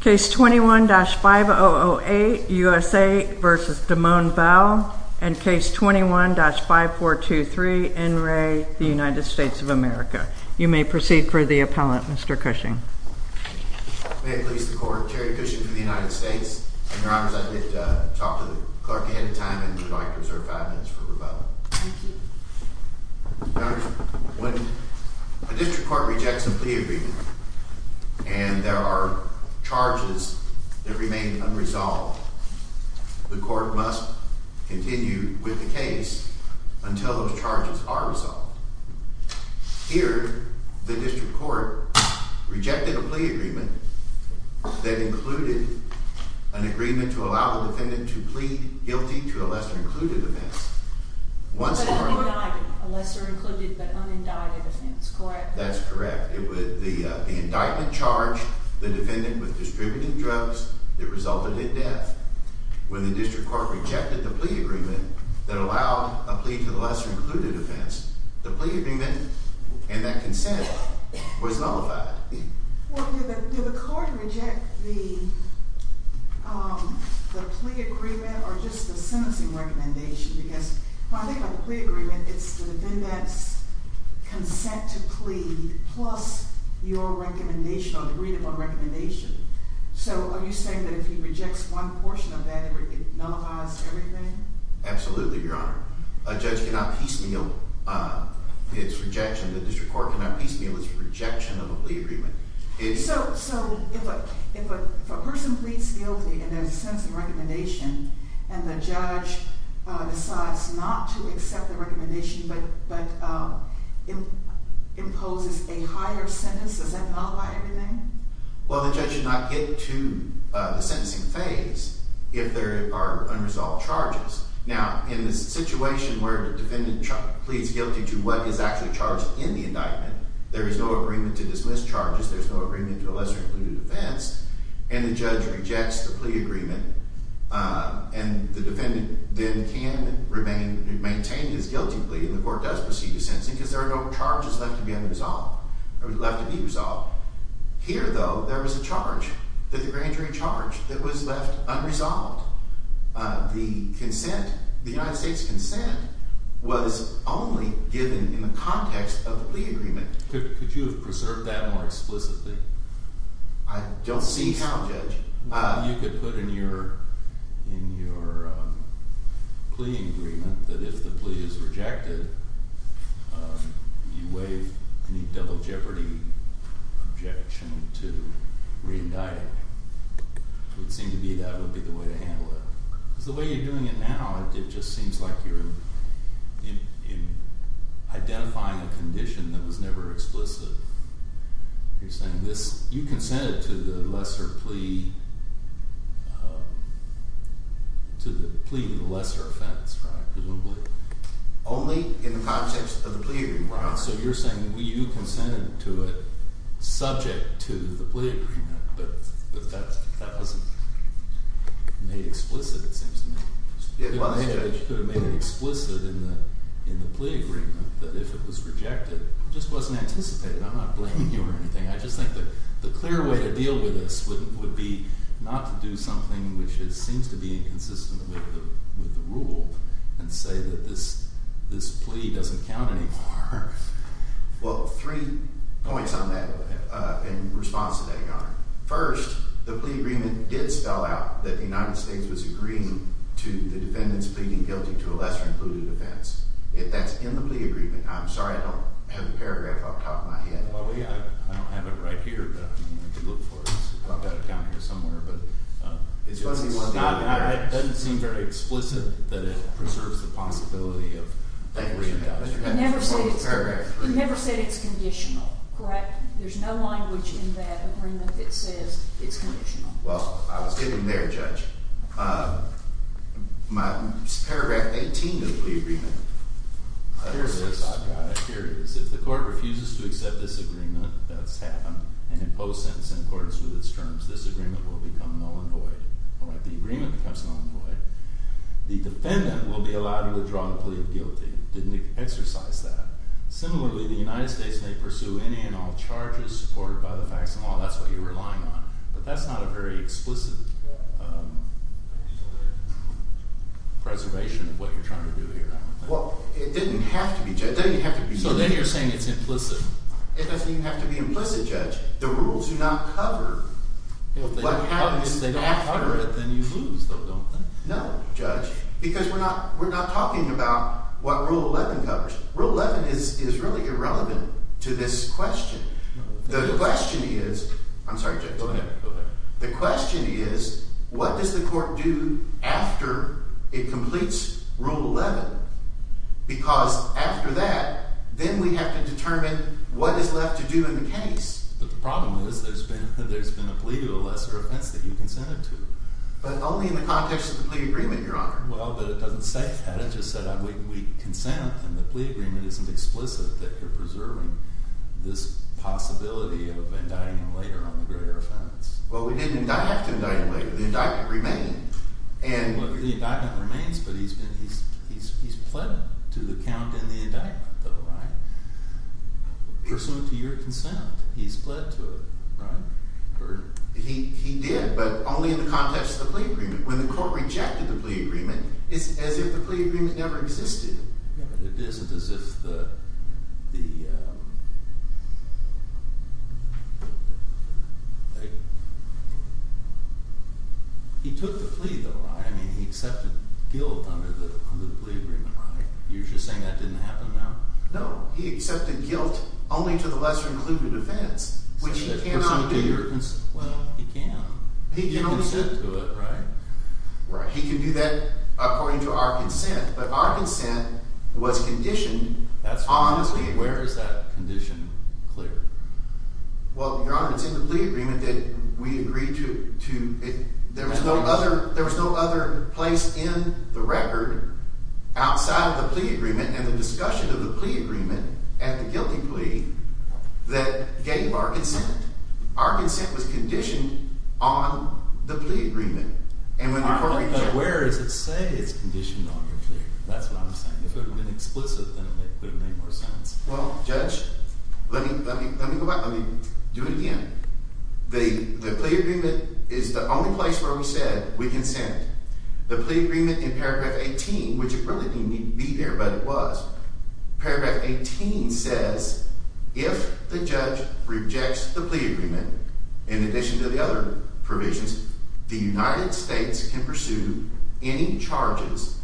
Case 21-5008, U.S.A. v. Damone Bell and Case 21-5423, NRA, United States of America. You may proceed for the appellant, Mr. Cushing. May it please the court, Terry Cushing for the United States. And your honors, I'd like to talk to the clerk ahead of time and would like to reserve five minutes for rebuttal. Thank you. Your honors, when a district court rejects a plea agreement and there are charges that remain unresolved, the court must continue with the case until those charges are resolved. Here, the district court rejected a plea agreement that included an agreement to allow the defendant to plead guilty to a lesser-included offense. But unindicted, a lesser-included but unindicted offense, correct? That's correct. The indictment charged the defendant with distributing drugs that resulted in death. When the district court rejected the plea agreement that allowed a plea to the lesser-included offense, the plea agreement and that consent was nullified. Well, did the court reject the plea agreement or just the sentencing recommendation? Because when I think about the plea agreement, it's the defendant's consent to plead plus your recommendation or the read of a recommendation. So are you saying that if he rejects one portion of that, it nullifies everything? Absolutely, your honor. A judge cannot piecemeal its rejection. The district court cannot piecemeal its rejection of a plea agreement. So if a person pleads guilty and there's a sentencing recommendation and the judge decides not to accept the recommendation but imposes a higher sentence, does that nullify everything? Well, the judge should not get to the sentencing phase if there are unresolved charges. Now, in this situation where the defendant pleads guilty to what is actually charged in the indictment, there is no agreement to dismiss charges. There's no agreement to a lesser-included offense. And the judge rejects the plea agreement. And the defendant then can remain, maintain his guilty plea and the court does proceed to sentencing because there are no charges left to be unresolved or left to be resolved. Here, though, there is a charge, the grand jury charge, that was left unresolved. The consent, the United States' consent, was only given in the context of the plea agreement. Could you have preserved that more explicitly? I don't see how, Judge. You could put in your plea agreement that if the plea is rejected, you waive any double jeopardy objection to re-indict. It would seem to be that would be the way to handle it. Because the way you're doing it now, it just seems like you're identifying a condition that was never explicit. You're saying this, you consented to the lesser plea, to the plea to the lesser offense, right? Only in the context of the plea agreement, right? So you're saying you consented to it subject to the plea agreement, but that wasn't made explicit, it seems to me. You could have made it explicit in the plea agreement that if it was rejected, it just wasn't anticipated. I'm not blaming you or anything. I just think the clear way to deal with this would be not to do something which seems to be inconsistent with the rule and say that this plea doesn't count anymore. Well, three points on that in response to that, Your Honor. First, the plea agreement did spell out that the United States was agreeing to the defendants pleading guilty to a lesser included offense. If that's in the plea agreement, I'm sorry I don't have the paragraph off the top of my head. I don't have it right here, but if you look for it, I've got it down here somewhere. It doesn't seem very explicit that it preserves the possibility of that re-indictment. It never said it's conditional, correct? There's no language in that agreement that says it's conditional. Well, I was getting there, Judge. Paragraph 18 of the plea agreement. Here it is, I've got it. Here it is. If the court refuses to accept this agreement, that's happened, and imposed sentence in accordance with its terms, this agreement will become null and void. All right, the agreement becomes null and void. The defendant will be allowed to withdraw the plea of guilty. It didn't exercise that. Similarly, the United States may pursue any and all charges supported by the facts of the law. That's what you're relying on. But that's not a very explicit preservation of what you're trying to do here. Well, it didn't have to be, Judge. So then you're saying it's implicit. It doesn't even have to be implicit, Judge. The rules do not cover what happens. If they don't cover it, then you lose, though, don't they? No, Judge, because we're not talking about what Rule 11 covers. Rule 11 is really irrelevant to this question. The question is, what does the court do after it completes Rule 11? Because after that, then we have to determine what is left to do in the case. But the problem is there's been a plea to a lesser offense that you consented to. But only in the context of the plea agreement, Your Honor. Well, but it doesn't say that. It just said we consent, and the plea agreement isn't explicit that you're preserving this possibility of indicting him later on the greater offense. Well, we didn't indict him later. The indictment remained. The indictment remains, but he's pled to the count in the indictment, though, right? Pursuant to your consent, he's pled to it, right? He did, but only in the context of the plea agreement. When the court rejected the plea agreement, it's as if the plea agreement never existed. Yeah, but it isn't as if the—he took the plea, though, right? I mean, he accepted guilt under the plea agreement, right? You're just saying that didn't happen, now? No, he accepted guilt only to the lesser-included offense, which he cannot do. Well, he can. He did consent to it, right? Right. He can do that according to our consent, but our consent was conditioned on the plea agreement. Where is that condition clear? Well, Your Honor, it's in the plea agreement that we agreed to. There was no other place in the record outside of the plea agreement and the discussion of the plea agreement at the guilty plea that gave our consent. Our consent was conditioned on the plea agreement. But where does it say it's conditioned on the plea agreement? That's what I'm saying. If it had been explicit, then it would have made more sense. Well, Judge, let me go back. Let me do it again. The plea agreement is the only place where we said we consent. The plea agreement in paragraph 18, which it really didn't need to be there, but it was, paragraph 18 says if the judge rejects the plea agreement, in addition to the other provisions, the United States can pursue any charges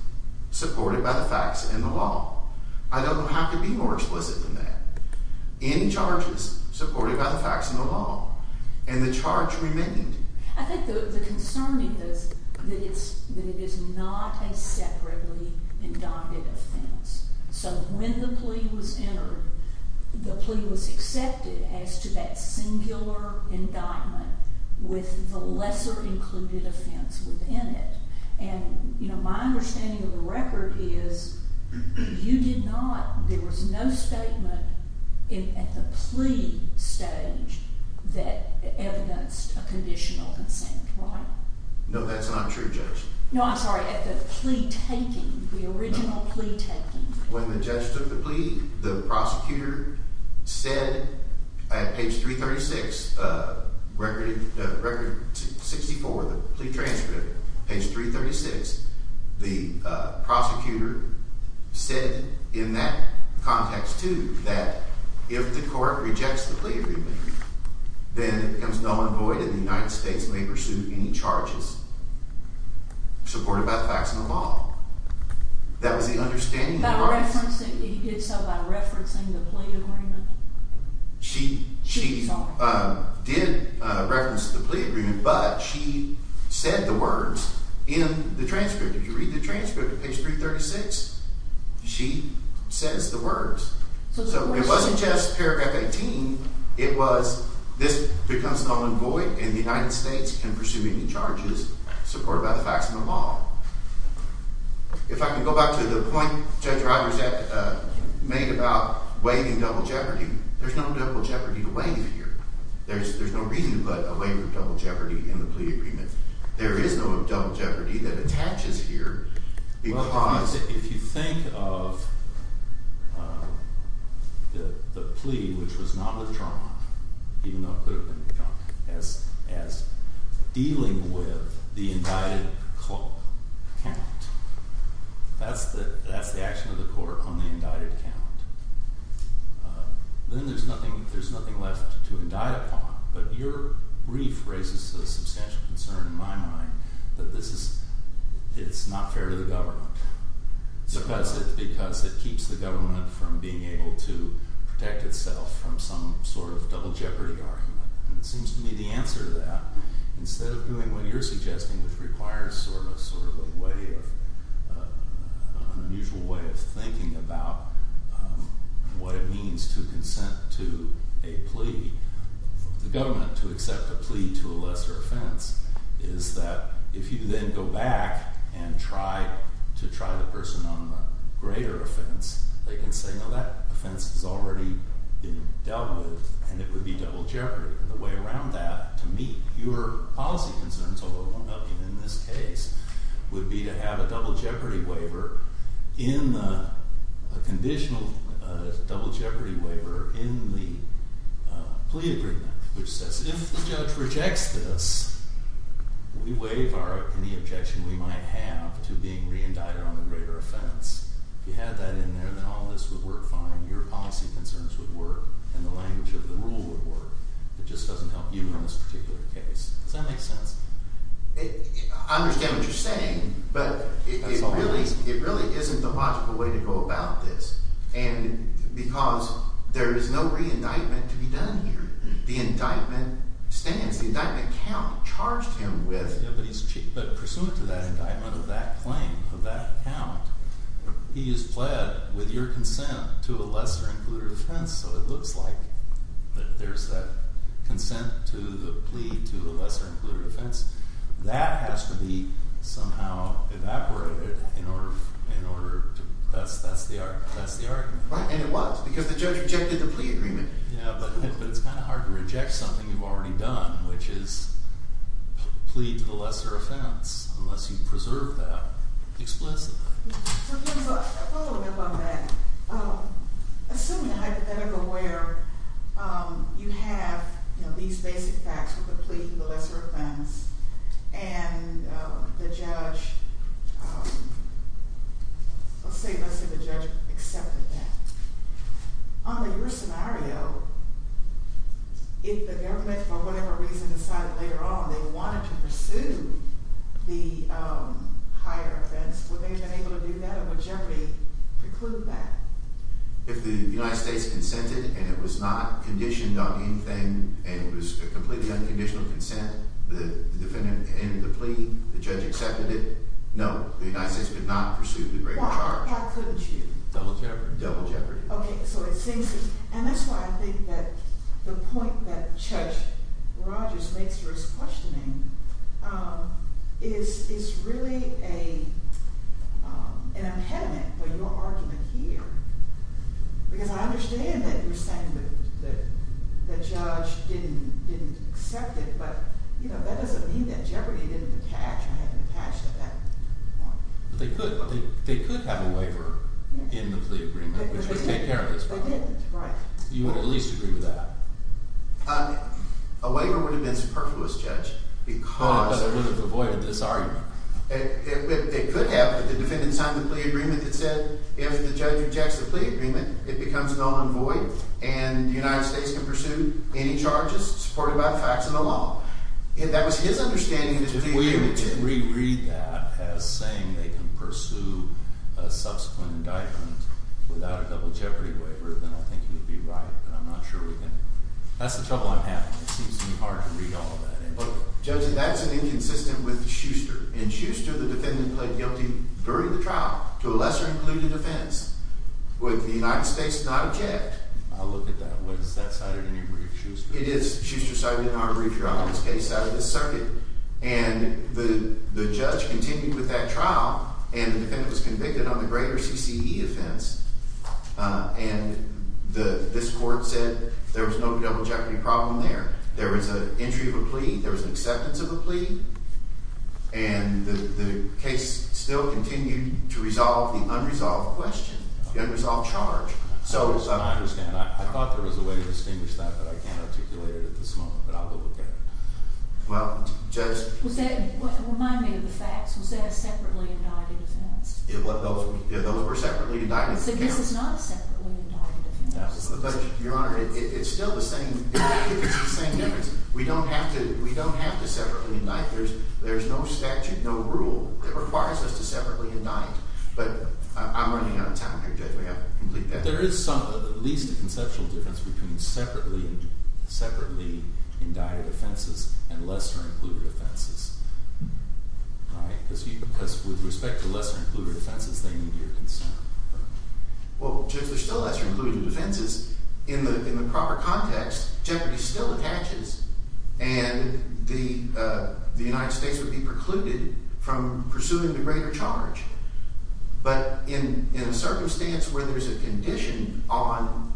supported by the facts and the law. I don't have to be more explicit than that. Any charges supported by the facts and the law, and the charge remained. I think the concern is that it is not a separately indicted offense. So when the plea was entered, the plea was accepted as to that singular indictment with the lesser included offense within it. And my understanding of the record is you did not, there was no statement at the plea stage that evidenced a conditional consent, right? No, that's not true, Judge. No, I'm sorry, at the plea taking, the original plea taking. When the judge took the plea, the prosecutor said at page 336, record 64, the plea transcript, page 336, the prosecutor said in that context too that if the court rejects the plea agreement, then it becomes null and void and the United States may pursue any charges supported by the facts and the law. That was the understanding. He did so by referencing the plea agreement? She did reference the plea agreement, but she said the words in the transcript. If you read the transcript at page 336, she says the words. So it wasn't just paragraph 18, it was this becomes null and void and the United States can pursue any charges supported by the facts and the law. If I can go back to the point Judge Roberts made about waiving double jeopardy, there's no double jeopardy to waive here. There's no reason to put a waiver of double jeopardy in the plea agreement. There is no double jeopardy that attaches here because. If you think of the plea, which was not withdrawn, even though it could have been withdrawn, as dealing with the indicted count, that's the action of the court on the indicted count. Then there's nothing left to indict upon, but your brief raises a substantial concern in my mind that this is not fair to the government. Because it keeps the government from being able to protect itself from some sort of double jeopardy argument. It seems to me the answer to that, instead of doing what you're suggesting, which requires sort of a way of, an unusual way of thinking about what it means to consent to a plea, for the government to accept a plea to a lesser offense, is that if you then go back and try to try the person on the greater offense, they can say, no, that offense has already been dealt with, and it would be double jeopardy. And the way around that, to meet your policy concerns, although it won't help you in this case, would be to have a double jeopardy waiver in the, a conditional double jeopardy waiver in the plea agreement, which says if the judge rejects this, we waive our, any objection we might have to being re-indicted on the greater offense. If you had that in there, then all this would work fine. Your policy concerns would work, and the language of the rule would work. It just doesn't help you in this particular case. Does that make sense? I understand what you're saying, but it really isn't the logical way to go about this. And because there is no re-indictment to be done here. The indictment stands. The indictment count charged him with. But pursuant to that indictment of that claim, of that count, he is pled with your consent to a lesser included offense. So it looks like that there's that consent to the plea to a lesser included offense. That has to be somehow evaporated in order to, that's the argument. Right, and it was, because the judge rejected the plea agreement. Yeah, but it's kind of hard to reject something you've already done, which is plead to the lesser offense, unless you preserve that explicitly. So here's a follow-up on that. Assuming a hypothetical where you have these basic facts with the plea to the lesser offense, and the judge, let's say the judge accepted that. Under your scenario, if the government, for whatever reason, decided later on they wanted to pursue the higher offense, would they have been able to do that, or would Jeopardy preclude that? If the United States consented and it was not conditioned on anything, and it was a completely unconditional consent, the defendant ended the plea, the judge accepted it, no, the United States could not pursue the greater charge. Why couldn't you? Double Jeopardy. Double Jeopardy. Okay, so it seems to, and that's why I think that the point that Judge Rogers makes for his questioning is really an impediment for your argument here. Because I understand that you're saying that the judge didn't accept it, but that doesn't mean that Jeopardy didn't attach. I hadn't attached at that point. They could, but they could have a waiver in the plea agreement, which would take care of this problem. You would at least agree with that. A waiver would have been superfluous, Judge. Because they would have avoided this argument. They could have, but the defendant signed the plea agreement that said if the judge rejects the plea agreement, it becomes null and void, and the United States can pursue any charges supported by the facts and the law. And that was his understanding of the plea agreement. If we were to reread that as saying they can pursue a subsequent indictment without a double Jeopardy waiver, then I think he would be right, but I'm not sure we can. That's the trouble I'm having. It seems to be hard to read all of that in a book. Judge, that's an inconsistent with Schuster. In Schuster, the defendant pled guilty during the trial to a lesser-included offense. Would the United States not object? I'll look at that. Was that cited in your brief, Schuster? It is. Schuster cited it in our brief here on this case out of this circuit. And the judge continued with that trial, and the defendant was convicted on the greater CCE offense. And this court said there was no double Jeopardy problem there. There was an entry of a plea. There was an acceptance of a plea. And the case still continued to resolve the unresolved question, the unresolved charge. I understand. I thought there was a way to distinguish that, but I can't articulate it at this moment. But I'll go look at it. Well, Judge. Remind me of the facts. Was that a separately indicted offense? Those were separately indicted. So this is not a separately indicted offense. Your Honor, it's still the same difference. We don't have to separately indict. There's no statute, no rule that requires us to separately indict. But I'm running out of time here, Judge. We have to complete that. But there is some, at least a conceptual difference between separately indicted offenses and lesser-included offenses. Because with respect to lesser-included offenses, they need your consent. Well, Judge, there's still lesser-included offenses. In the proper context, Jeopardy still attaches, and the United States would be precluded from pursuing the greater charge. But in a circumstance where there's a condition on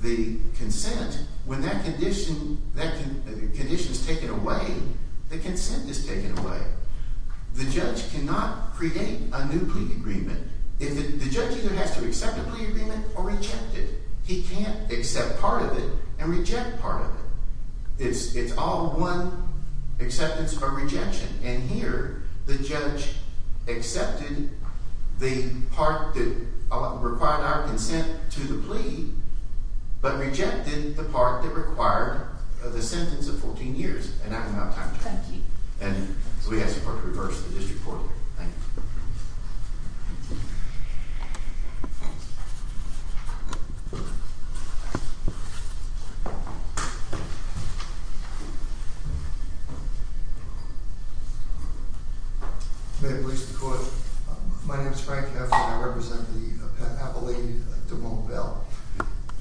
the consent, when that condition is taken away, the consent is taken away. The judge cannot create a new plea agreement. The judge either has to accept a plea agreement or reject it. He can't accept part of it and reject part of it. It's all one acceptance or rejection. And here, the judge accepted the part that required our consent to the plea but rejected the part that required the sentence of 14 years. And I'm out of time. Thank you. And so we ask for a reverse of the district court. Thank you. May it please the court. My name is Frank Heffner. I represent the Appellate, Duvall Bell.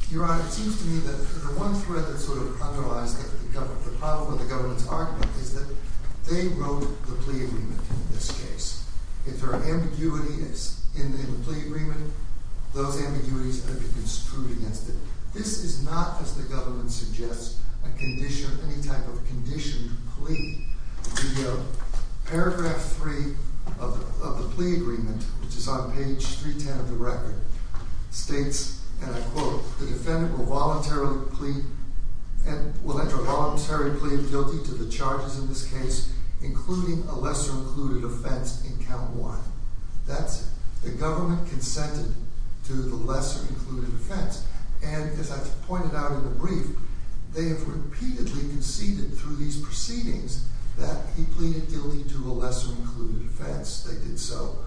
Your Honor, it seems to me that the one thread that sort of underlies the problem with the government's argument is that they wrote the plea agreement in this case. If there are ambiguities in the plea agreement, those ambiguities have to be construed against it. This is not, as the government suggests, a condition, any type of conditioned plea. The paragraph 3 of the plea agreement, which is on page 310 of the record, states, and I quote, the defendant will voluntarily plead and will enter a voluntary plea of guilty to the charges in this case, including a lesser included offense in count 1. That's it. The government consented to the lesser included offense. And as I pointed out in the brief, they have repeatedly conceded through these proceedings that he pleaded guilty to a lesser included offense. They did so,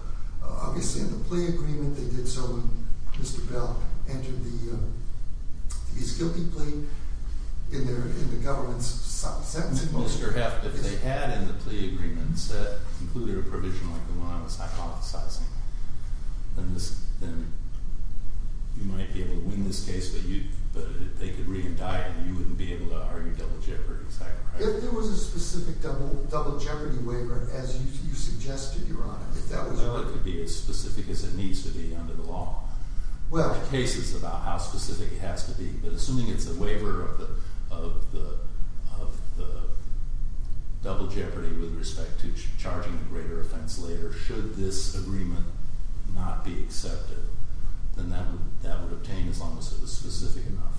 obviously, in the plea agreement. They did so when Mr. Bell entered the guilty plea in the government's sentencing motion. Well, Mr. Heft, if they had in the plea agreement included a provision like the one I was hypothesizing, then you might be able to win this case, but if they could re-indict, you wouldn't be able to argue double jeopardy, is that correct? If there was a specific double jeopardy waiver, as you suggested, Your Honor, if that was a... Well, it could be as specific as it needs to be under the law. Well... There are cases about how specific it has to be, but assuming it's a waiver of the double jeopardy with respect to charging a greater offense later, should this agreement not be accepted, then that would obtain as long as it was specific enough.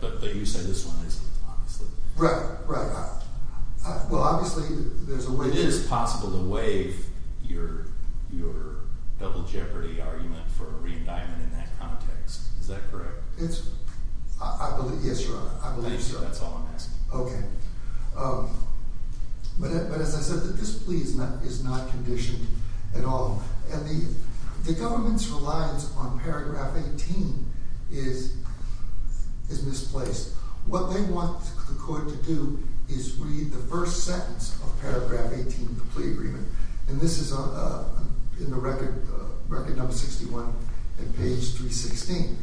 But you said this one is obviously... Right, right. Well, obviously, there's a waiver... Is that correct? It's... I believe... Yes, Your Honor, I believe so. Thank you. That's all I'm asking. Okay. But as I said, this plea is not conditioned at all, and the government's reliance on paragraph 18 is misplaced. What they want the court to do is read the first sentence of paragraph 18 of the plea agreement, and this is in the Record No. 61 at page 316.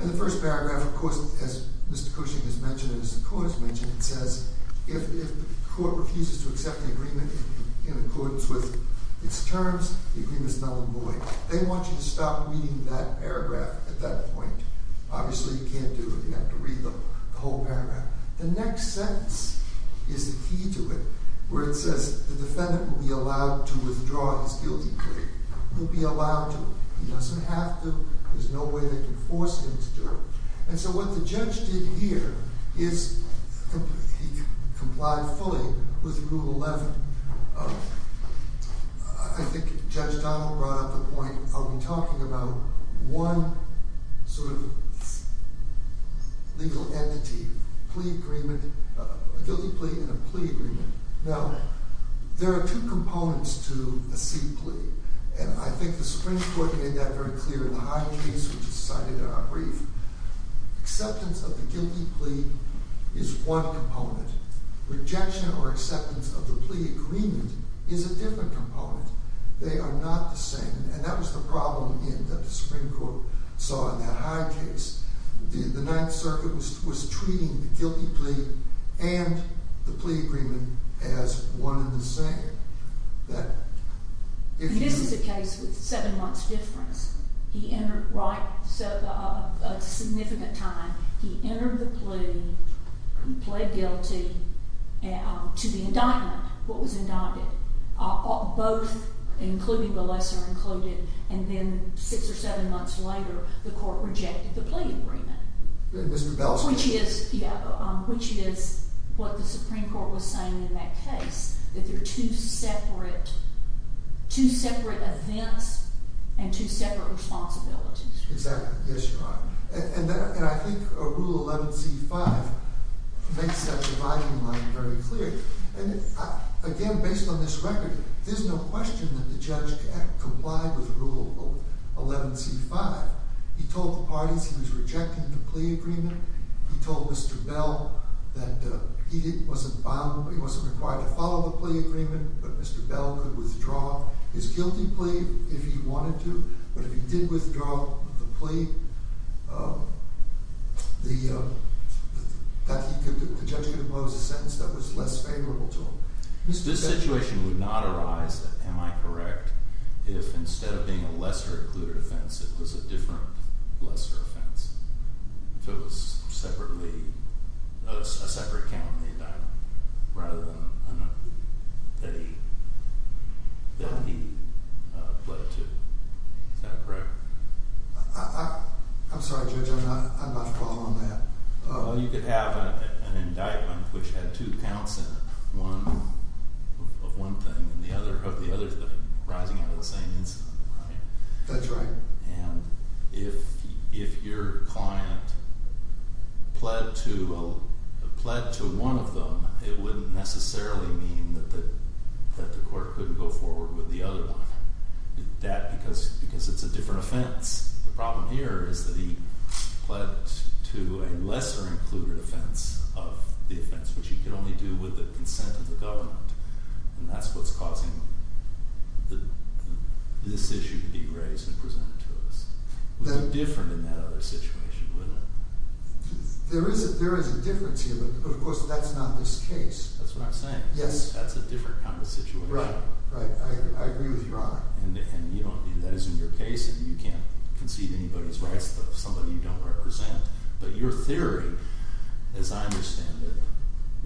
In the first paragraph, of course, as Mr. Cushing has mentioned and as the court has mentioned, it says, if the court refuses to accept the agreement in accordance with its terms, the agreement is null and void. They want you to stop reading that paragraph at that point. Obviously, you can't do it. You have to read the whole paragraph. The next sentence is the key to it, where it says the defendant will be allowed to withdraw his guilty plea. He'll be allowed to. He doesn't have to. There's no way they can force him to do it. And so what the judge did here is he complied fully with Rule 11. I think Judge Donald brought up the point of talking about one sort of legal entity, plea agreement, a guilty plea and a plea agreement. Now, there are two components to a seat plea, and I think the Supreme Court made that very clear in the Hyde case, which is cited in our brief. Acceptance of the guilty plea is one component. Rejection or acceptance of the plea agreement is a different component. They are not the same, and that was the problem again that the Supreme Court saw in that Hyde case. The Ninth Circuit was treating the guilty plea and the plea agreement as one and the same. This is a case with seven months' difference. He entered a significant time. He entered the plea. He pled guilty to the indictment, what was indicted, both including the lesser included. And then six or seven months later, the court rejected the plea agreement, which is what the Supreme Court was saying in that case, that they're two separate events and two separate responsibilities. Exactly. Yes, Your Honor. And I think Rule 11c-5 makes that dividing line very clear. And again, based on this record, there's no question that the judge complied with Rule 11c-5. He told the parties he was rejecting the plea agreement. He told Mr. Bell that he wasn't bound, he wasn't required to follow the plea agreement, but Mr. Bell could withdraw his guilty plea if he wanted to. But if he did withdraw the plea, the judge could impose a sentence that was less favorable to him. This situation would not arise, am I correct, if instead of being a lesser included offense, it was a different lesser offense? If it was a separate count in the indictment rather than a plea that he pled to, is that correct? I'm sorry, Judge, I'm not following that. Well, you could have an indictment which had two counts in it, one of one thing and the other of the other thing, rising out of the same incident, right? That's right. And if your client pled to one of them, it wouldn't necessarily mean that the court couldn't go forward with the other one, because it's a different offense. The problem here is that he pled to a lesser included offense of the offense, which he could only do with the consent of the government. And that's what's causing this issue to be raised and presented to us. It would be different in that other situation, wouldn't it? There is a difference here, but of course that's not this case. That's what I'm saying. Yes. That's a different kind of situation. Right. I agree with Your Honor. And that isn't your case, and you can't concede anybody's rights to somebody you don't represent. But your theory, as I understand it,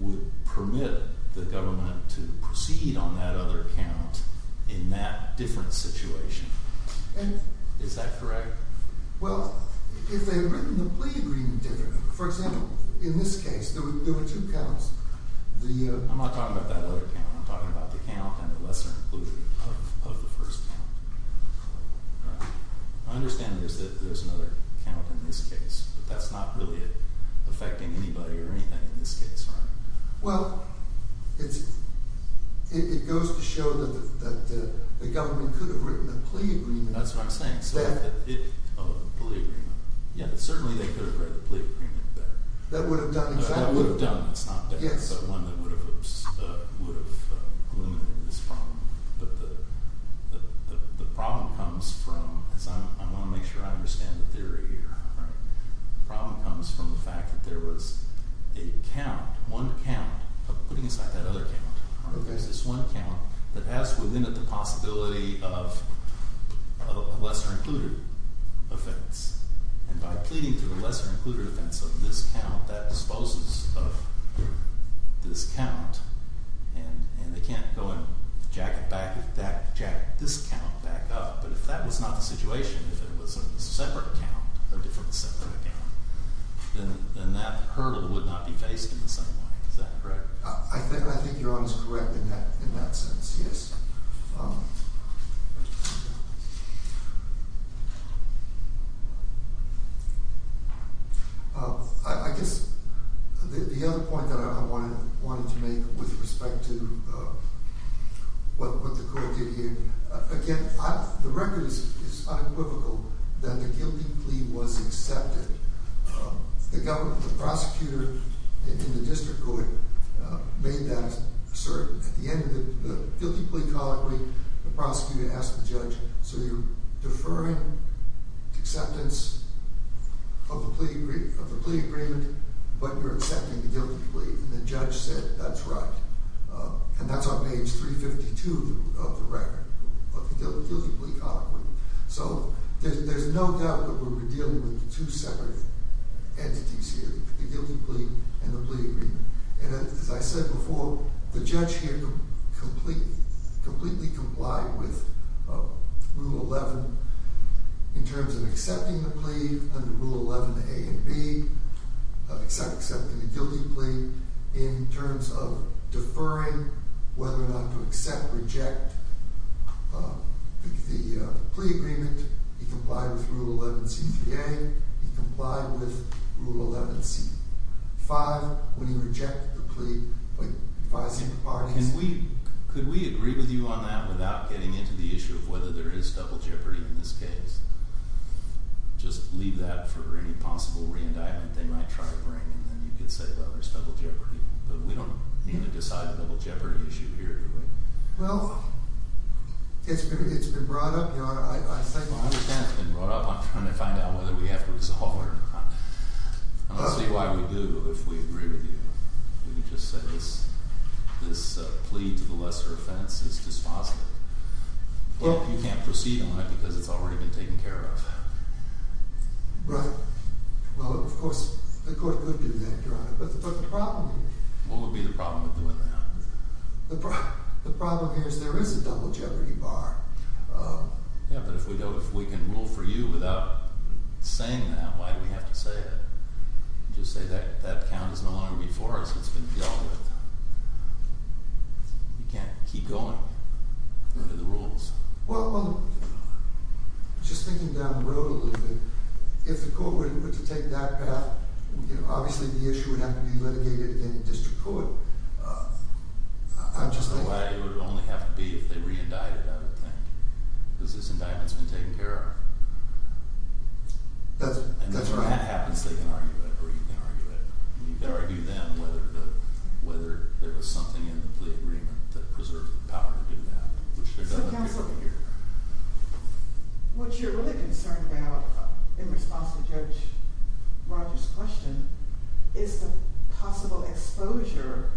would permit the government to proceed on that other count in that different situation. Is that correct? Well, if they had written the plea agreement differently, for example, in this case, there were two counts. I'm not talking about that other count. I'm talking about the count and the lesser included of the first count. All right. I understand there's another count in this case, but that's not really affecting anybody or anything in this case, right? Well, it goes to show that the government could have written a plea agreement. That's what I'm saying. Oh, a plea agreement. Yes, certainly they could have written a plea agreement there. That would have done exactly— I want to make sure I understand the theory here. The problem comes from the fact that there was a count, one count, putting aside that other count. There's this one count that has within it the possibility of a lesser included offense. And by pleading for the lesser included offense of this count, that disposes of this count. And they can't go and jack this count back up. But if that was not the situation, if it was a separate count, a different separate count, then that hurdle would not be faced in the same way. Is that correct? I think you're almost correct in that sense, yes. I guess the other point that I wanted to make with respect to what the court did here, again, the record is unequivocal that the guilty plea was accepted. The prosecutor in the district court made that certain. At the end of the guilty plea colloquy, the prosecutor asked the judge, so you're deferring acceptance of the plea agreement, but you're accepting the guilty plea. And the judge said, that's right. And that's on page 352 of the record of the guilty plea colloquy. So there's no doubt that we're dealing with two separate entities here, the guilty plea and the plea agreement. And as I said before, the judge here completely complied with Rule 11 in terms of accepting the plea under Rule 11a and b, accepting the guilty plea in terms of deferring whether or not to accept or reject the plea agreement. He complied with Rule 11c3a. He complied with Rule 11c5 when he rejected the plea by advising the parties. Could we agree with you on that without getting into the issue of whether there is double jeopardy in this case? Just leave that for any possible re-indictment they might try to bring, and then you could say, well, there's double jeopardy. But we don't need to decide the double jeopardy issue here, do we? Well, it's been brought up, Your Honor. I understand it's been brought up. I'm trying to find out whether we have to resolve it or not. I don't see why we do if we agree with you. We can just say this plea to the lesser offense is dispositive. Well, you can't proceed on it because it's already been taken care of. Right. Well, of course, the court could do that, Your Honor. But the problem is… What would be the problem with doing that? The problem is there is a double jeopardy bar. Yeah, but if we can rule for you without saying that, why do we have to say it? Just say that that count is no longer before us. It's been dealt with. You can't keep going. Under the rules. Well, just thinking down the road a little bit, if the court were to take that path, obviously the issue would have to be litigated in district court. I'm just thinking… It would only have to be if they re-indicted, I would think. Because this indictment has been taken care of. That's right. And if that happens, they can argue it or you can argue it. You can argue then whether there was something in the plea agreement that preserved the power to do that. So, counsel, what you're really concerned about in response to Judge Rogers' question is the possible exposure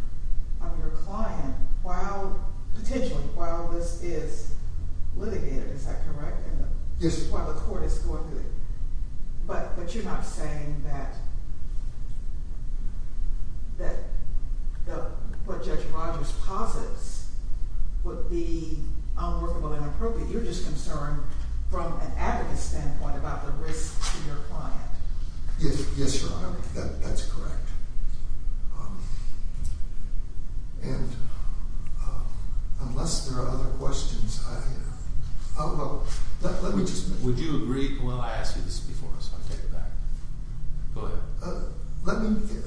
of your client while, potentially, while this is litigated. Is that correct? Yes. While the court is going through it. But you're not saying that what Judge Rogers posits would be unworkable and inappropriate. You're just concerned from an advocate standpoint about the risk to your client. Yes, Your Honor. That's correct. And unless there are other questions, I… Let me just… Would you agree? Well, I asked you this before, so I'll take it back. Go ahead.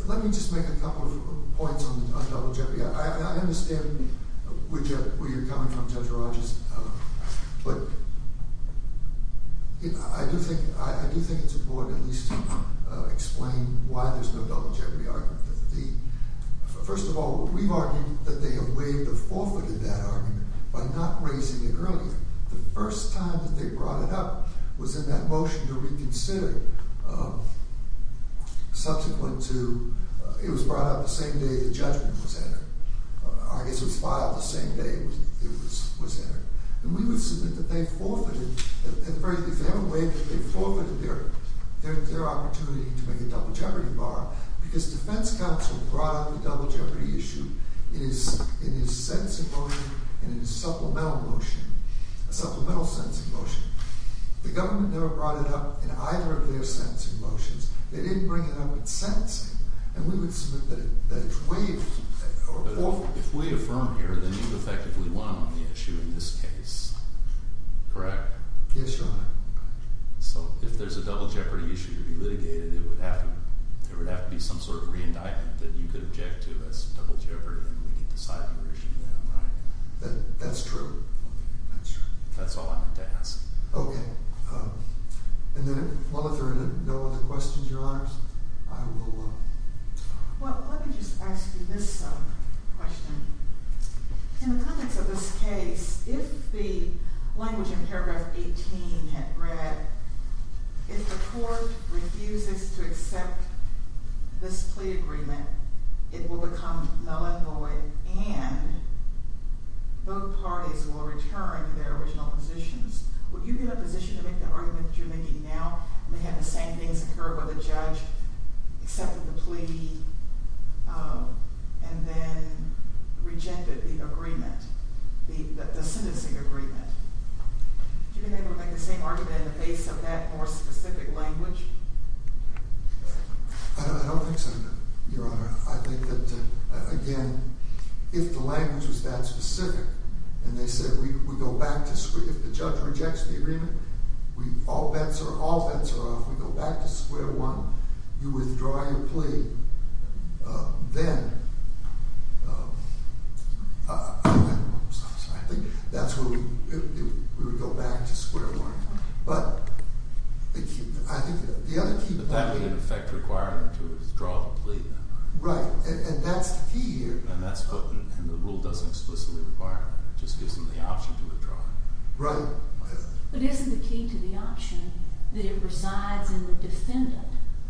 Let me just make a couple of points on double jeopardy. I understand where you're coming from, Judge Rogers. But I do think it's important at least to explain why there's no double jeopardy argument. First of all, we've argued that they have waived or forfeited that argument by not raising it earlier. The first time that they brought it up was in that motion to reconsider subsequent to… It was brought up the same day the judgment was entered. I guess it was filed the same day it was entered. And we would submit that they forfeited… If they haven't waived it, they forfeited their opportunity to make a double jeopardy bar because defense counsel brought up the double jeopardy issue in his sentencing motion and in his supplemental motion, a supplemental sentencing motion. The government never brought it up in either of their sentencing motions. They didn't bring it up in sentencing. And we would submit that it's waived or forfeited. But if we affirm here, then you effectively won on the issue in this case, correct? Yes, Your Honor. So if there's a double jeopardy issue to be litigated, it would have to be some sort of re-indictment that you could object to as double jeopardy and we could decide on the issue then, right? That's true. That's all I'm going to ask. Okay. And then if there are no other questions, Your Honors, I will… Well, let me just ask you this question. In the context of this case, if the language in paragraph 18 had read, if the court refuses to accept this plea agreement, it will become null and void and both parties will return to their original positions. Would you be in a position to make the argument that you're making now, and they had the same things occur where the judge accepted the plea and then rejected the agreement, the sentencing agreement? Would you be able to make the same argument in the face of that more specific language? I don't think so, Your Honor. I think that, again, if the language was that specific and they said, if the judge rejects the agreement, all bets are off. We go back to square one. You withdraw your plea. Then I think that's where we would go back to square one. But I think the other key point… But that would in effect require them to withdraw the plea. Right, and that's the key here. And the rule doesn't explicitly require it. It just gives them the option to withdraw it. Right. But isn't the key to the option that it resides in the defendant?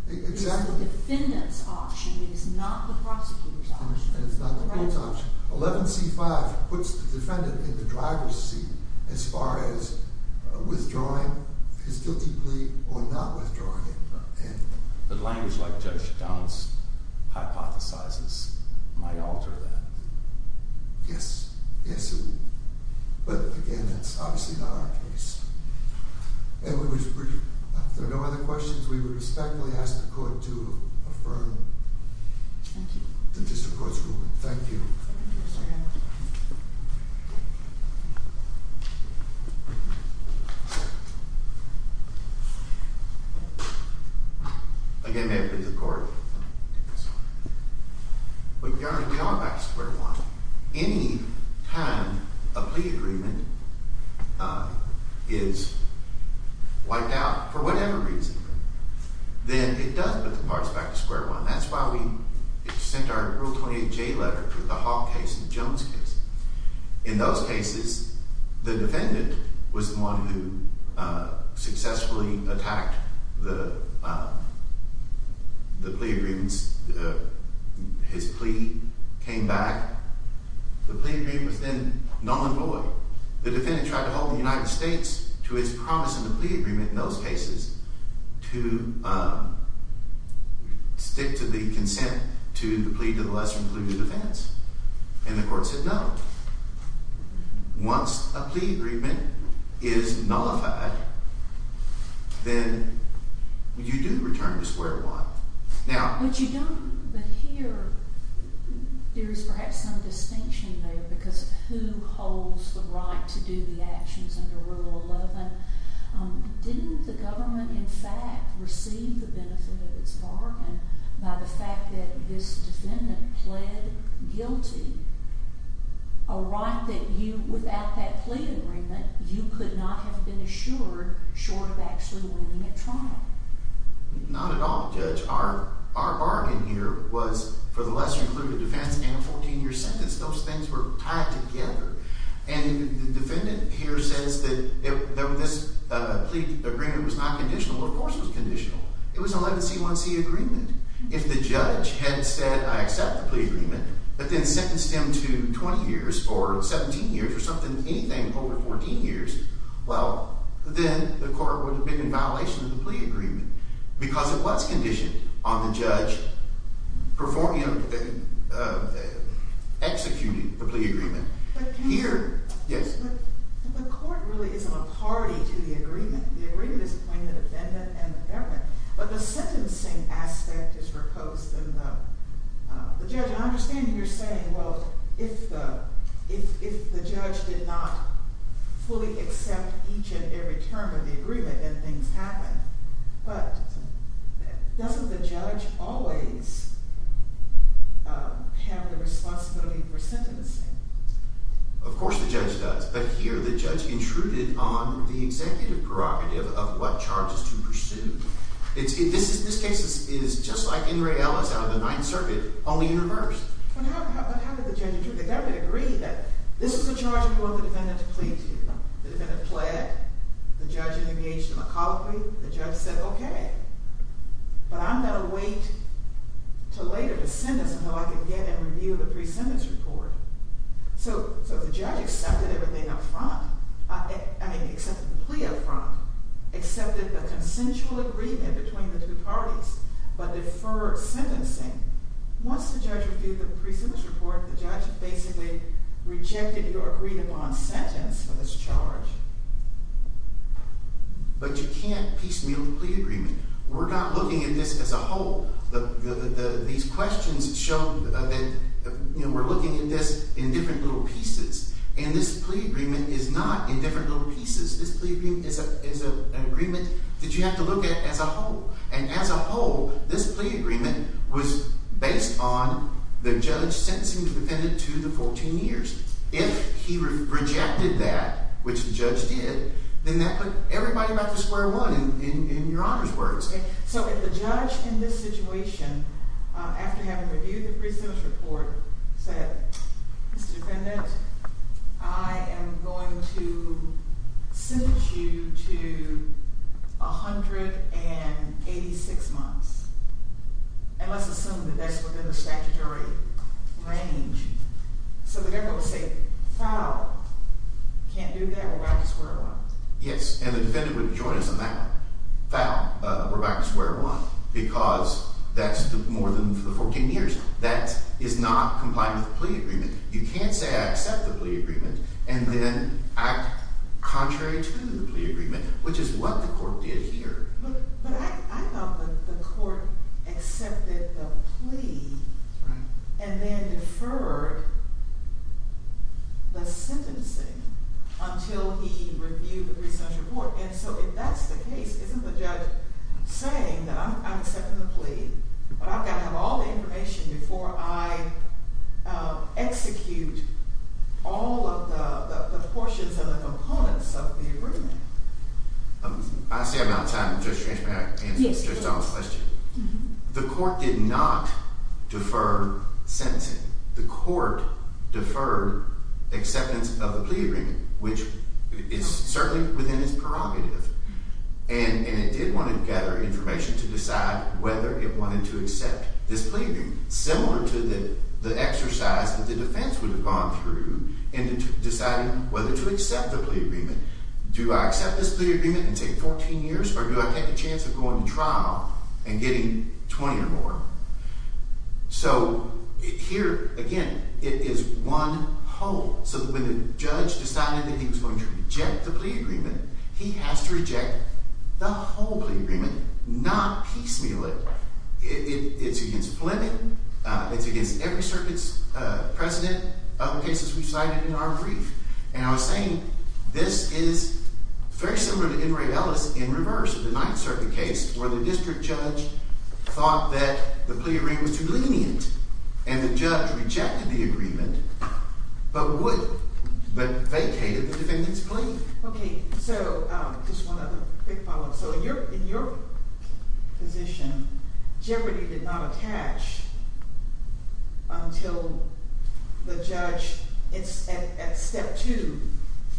Exactly. It's the defendant's option. It is not the prosecutor's option. It's not the plaintiff's option. 11C-5 puts the defendant in the driver's seat as far as withdrawing his guilty plea or not withdrawing it. The language like Judge Downs hypothesizes might alter that. Yes. Yes, it would. But, again, that's obviously not our case. If there are no other questions, we would respectfully ask the Court to affirm the District Court's ruling. Thank you. Again, may it please the Court. But, Your Honor, we are back to square one. Any time a plea agreement is wiped out for whatever reason, then it does put the parts back to square one. That's why we sent our Rule 28J letter to the Hawk case and Jones case. In those cases, the defendant was the one who successfully attacked the plea agreements. His plea came back. The plea agreement was then null and void. The defendant tried to hold the United States to its promise in the plea agreement in those cases to stick to the consent to the plea to the lesser included offense, and the Court said no. Once a plea agreement is nullified, then you do return to square one. But you don't, but here, there is perhaps some distinction there because who holds the right to do the actions under Rule 11? Didn't the government, in fact, receive the benefit of its bargain by the fact that this defendant pled guilty, a right that you, without that plea agreement, you could not have been assured short of actually winning a trial? Not at all, Judge. Our bargain here was for the lesser included defense and a 14-year sentence. Those things were tied together. And the defendant here says that this plea agreement was not conditional. Well, of course it was conditional. It was an 11C1C agreement. If the judge had said, I accept the plea agreement, but then sentenced him to 20 years or 17 years or something, anything over 14 years, well, then the Court would have been in violation of the plea agreement because it was conditioned on the judge executing the plea agreement. The agreement is between the defendant and the government. But the sentencing aspect is proposed in the judge. I understand you're saying, well, if the judge did not fully accept each and every term of the agreement, then things happen. But doesn't the judge always have the responsibility for sentencing? Of course the judge does. But here the judge intruded on the executive prerogative of what charges to pursue. This case is just like N. Ray Ellis out of the Ninth Circuit, only in reverse. How did the judge intrude? The government agreed that this was a charge before the defendant to plea to you. The defendant pled. The judge engaged in a colloquy. The judge said, okay, but I'm going to wait until later to sentence until I can get and review the pre-sentence report. So if the judge accepted everything up front, I mean, accepted the plea up front, accepted the consensual agreement between the two parties, but deferred sentencing, once the judge reviewed the pre-sentence report, the judge basically rejected your agreed-upon sentence for this charge. But you can't piecemeal the plea agreement. We're not looking at this as a whole. These questions show that we're looking at this in different little pieces, and this plea agreement is not in different little pieces. This plea agreement is an agreement that you have to look at as a whole, and as a whole, this plea agreement was based on the judge sentencing the defendant to the 14 years. If he rejected that, which the judge did, then that put everybody back to square one in Your Honor's words. So if the judge in this situation, after having reviewed the pre-sentence report, said, Mr. Defendant, I am going to sentence you to 186 months, and let's assume that that's within the statutory range, so the defendant would say, foul, can't do that, we're back to square one. Yes, and the defendant would join us on that, foul, we're back to square one, because that's more than the 14 years. That is not complying with the plea agreement. You can't say I accept the plea agreement and then act contrary to the plea agreement, which is what the court did here. But I thought the court accepted the plea and then deferred the sentencing until he reviewed the pre-sentence report. And so if that's the case, isn't the judge saying that I'm accepting the plea, but I've got to have all the information before I execute all of the portions and the components of the agreement? I see I'm out of time. Judge Strange, may I answer Judge Donald's question? The court did not defer sentencing. The court deferred acceptance of the plea agreement, which is certainly within its prerogative, and it did want to gather information to decide whether it wanted to accept this plea agreement, similar to the exercise that the defense would have gone through in deciding whether to accept the plea agreement. Do I accept this plea agreement and take 14 years, or do I take a chance of going to trial and getting 20 or more? So here, again, it is one whole. So when the judge decided that he was going to reject the plea agreement, he has to reject the whole plea agreement, not piecemeal it. It's against Fleming. It's against every circuit's precedent of the cases we've cited in our brief. And I was saying this is very similar to Henry Ellis in reverse of the Ninth Circuit case where the district judge thought that the plea agreement was too lenient, and the judge rejected the agreement but vacated the defendant's plea. Okay, so just one other quick follow-up. So in your position, Jeopardy! did not attach until the judge at step two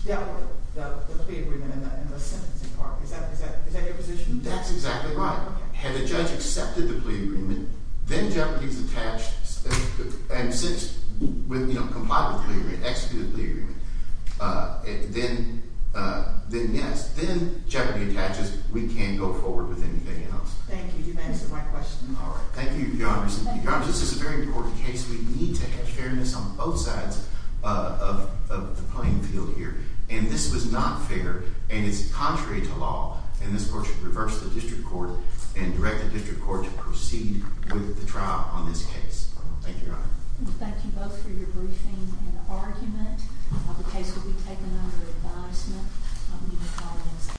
dealt with the plea agreement and the sentencing part. Is that your position? That's exactly right. Had the judge accepted the plea agreement, then Jeopardy!'s attached, and since, you know, complied with the plea agreement, executed the plea agreement, then, yes, then Jeopardy! attaches. We can't go forward with anything else. Thank you. You've answered my question. All right. Thank you, Your Honor. Your Honor, this is a very important case. We need to have fairness on both sides of the playing field here, and this was not fair, and it's contrary to law, and this court should reverse the district court and direct the district court to proceed with the trial on this case. Thank you, Your Honor. Thank you both for your briefing and argument. The case will be taken under advisement. I'll leave the call now.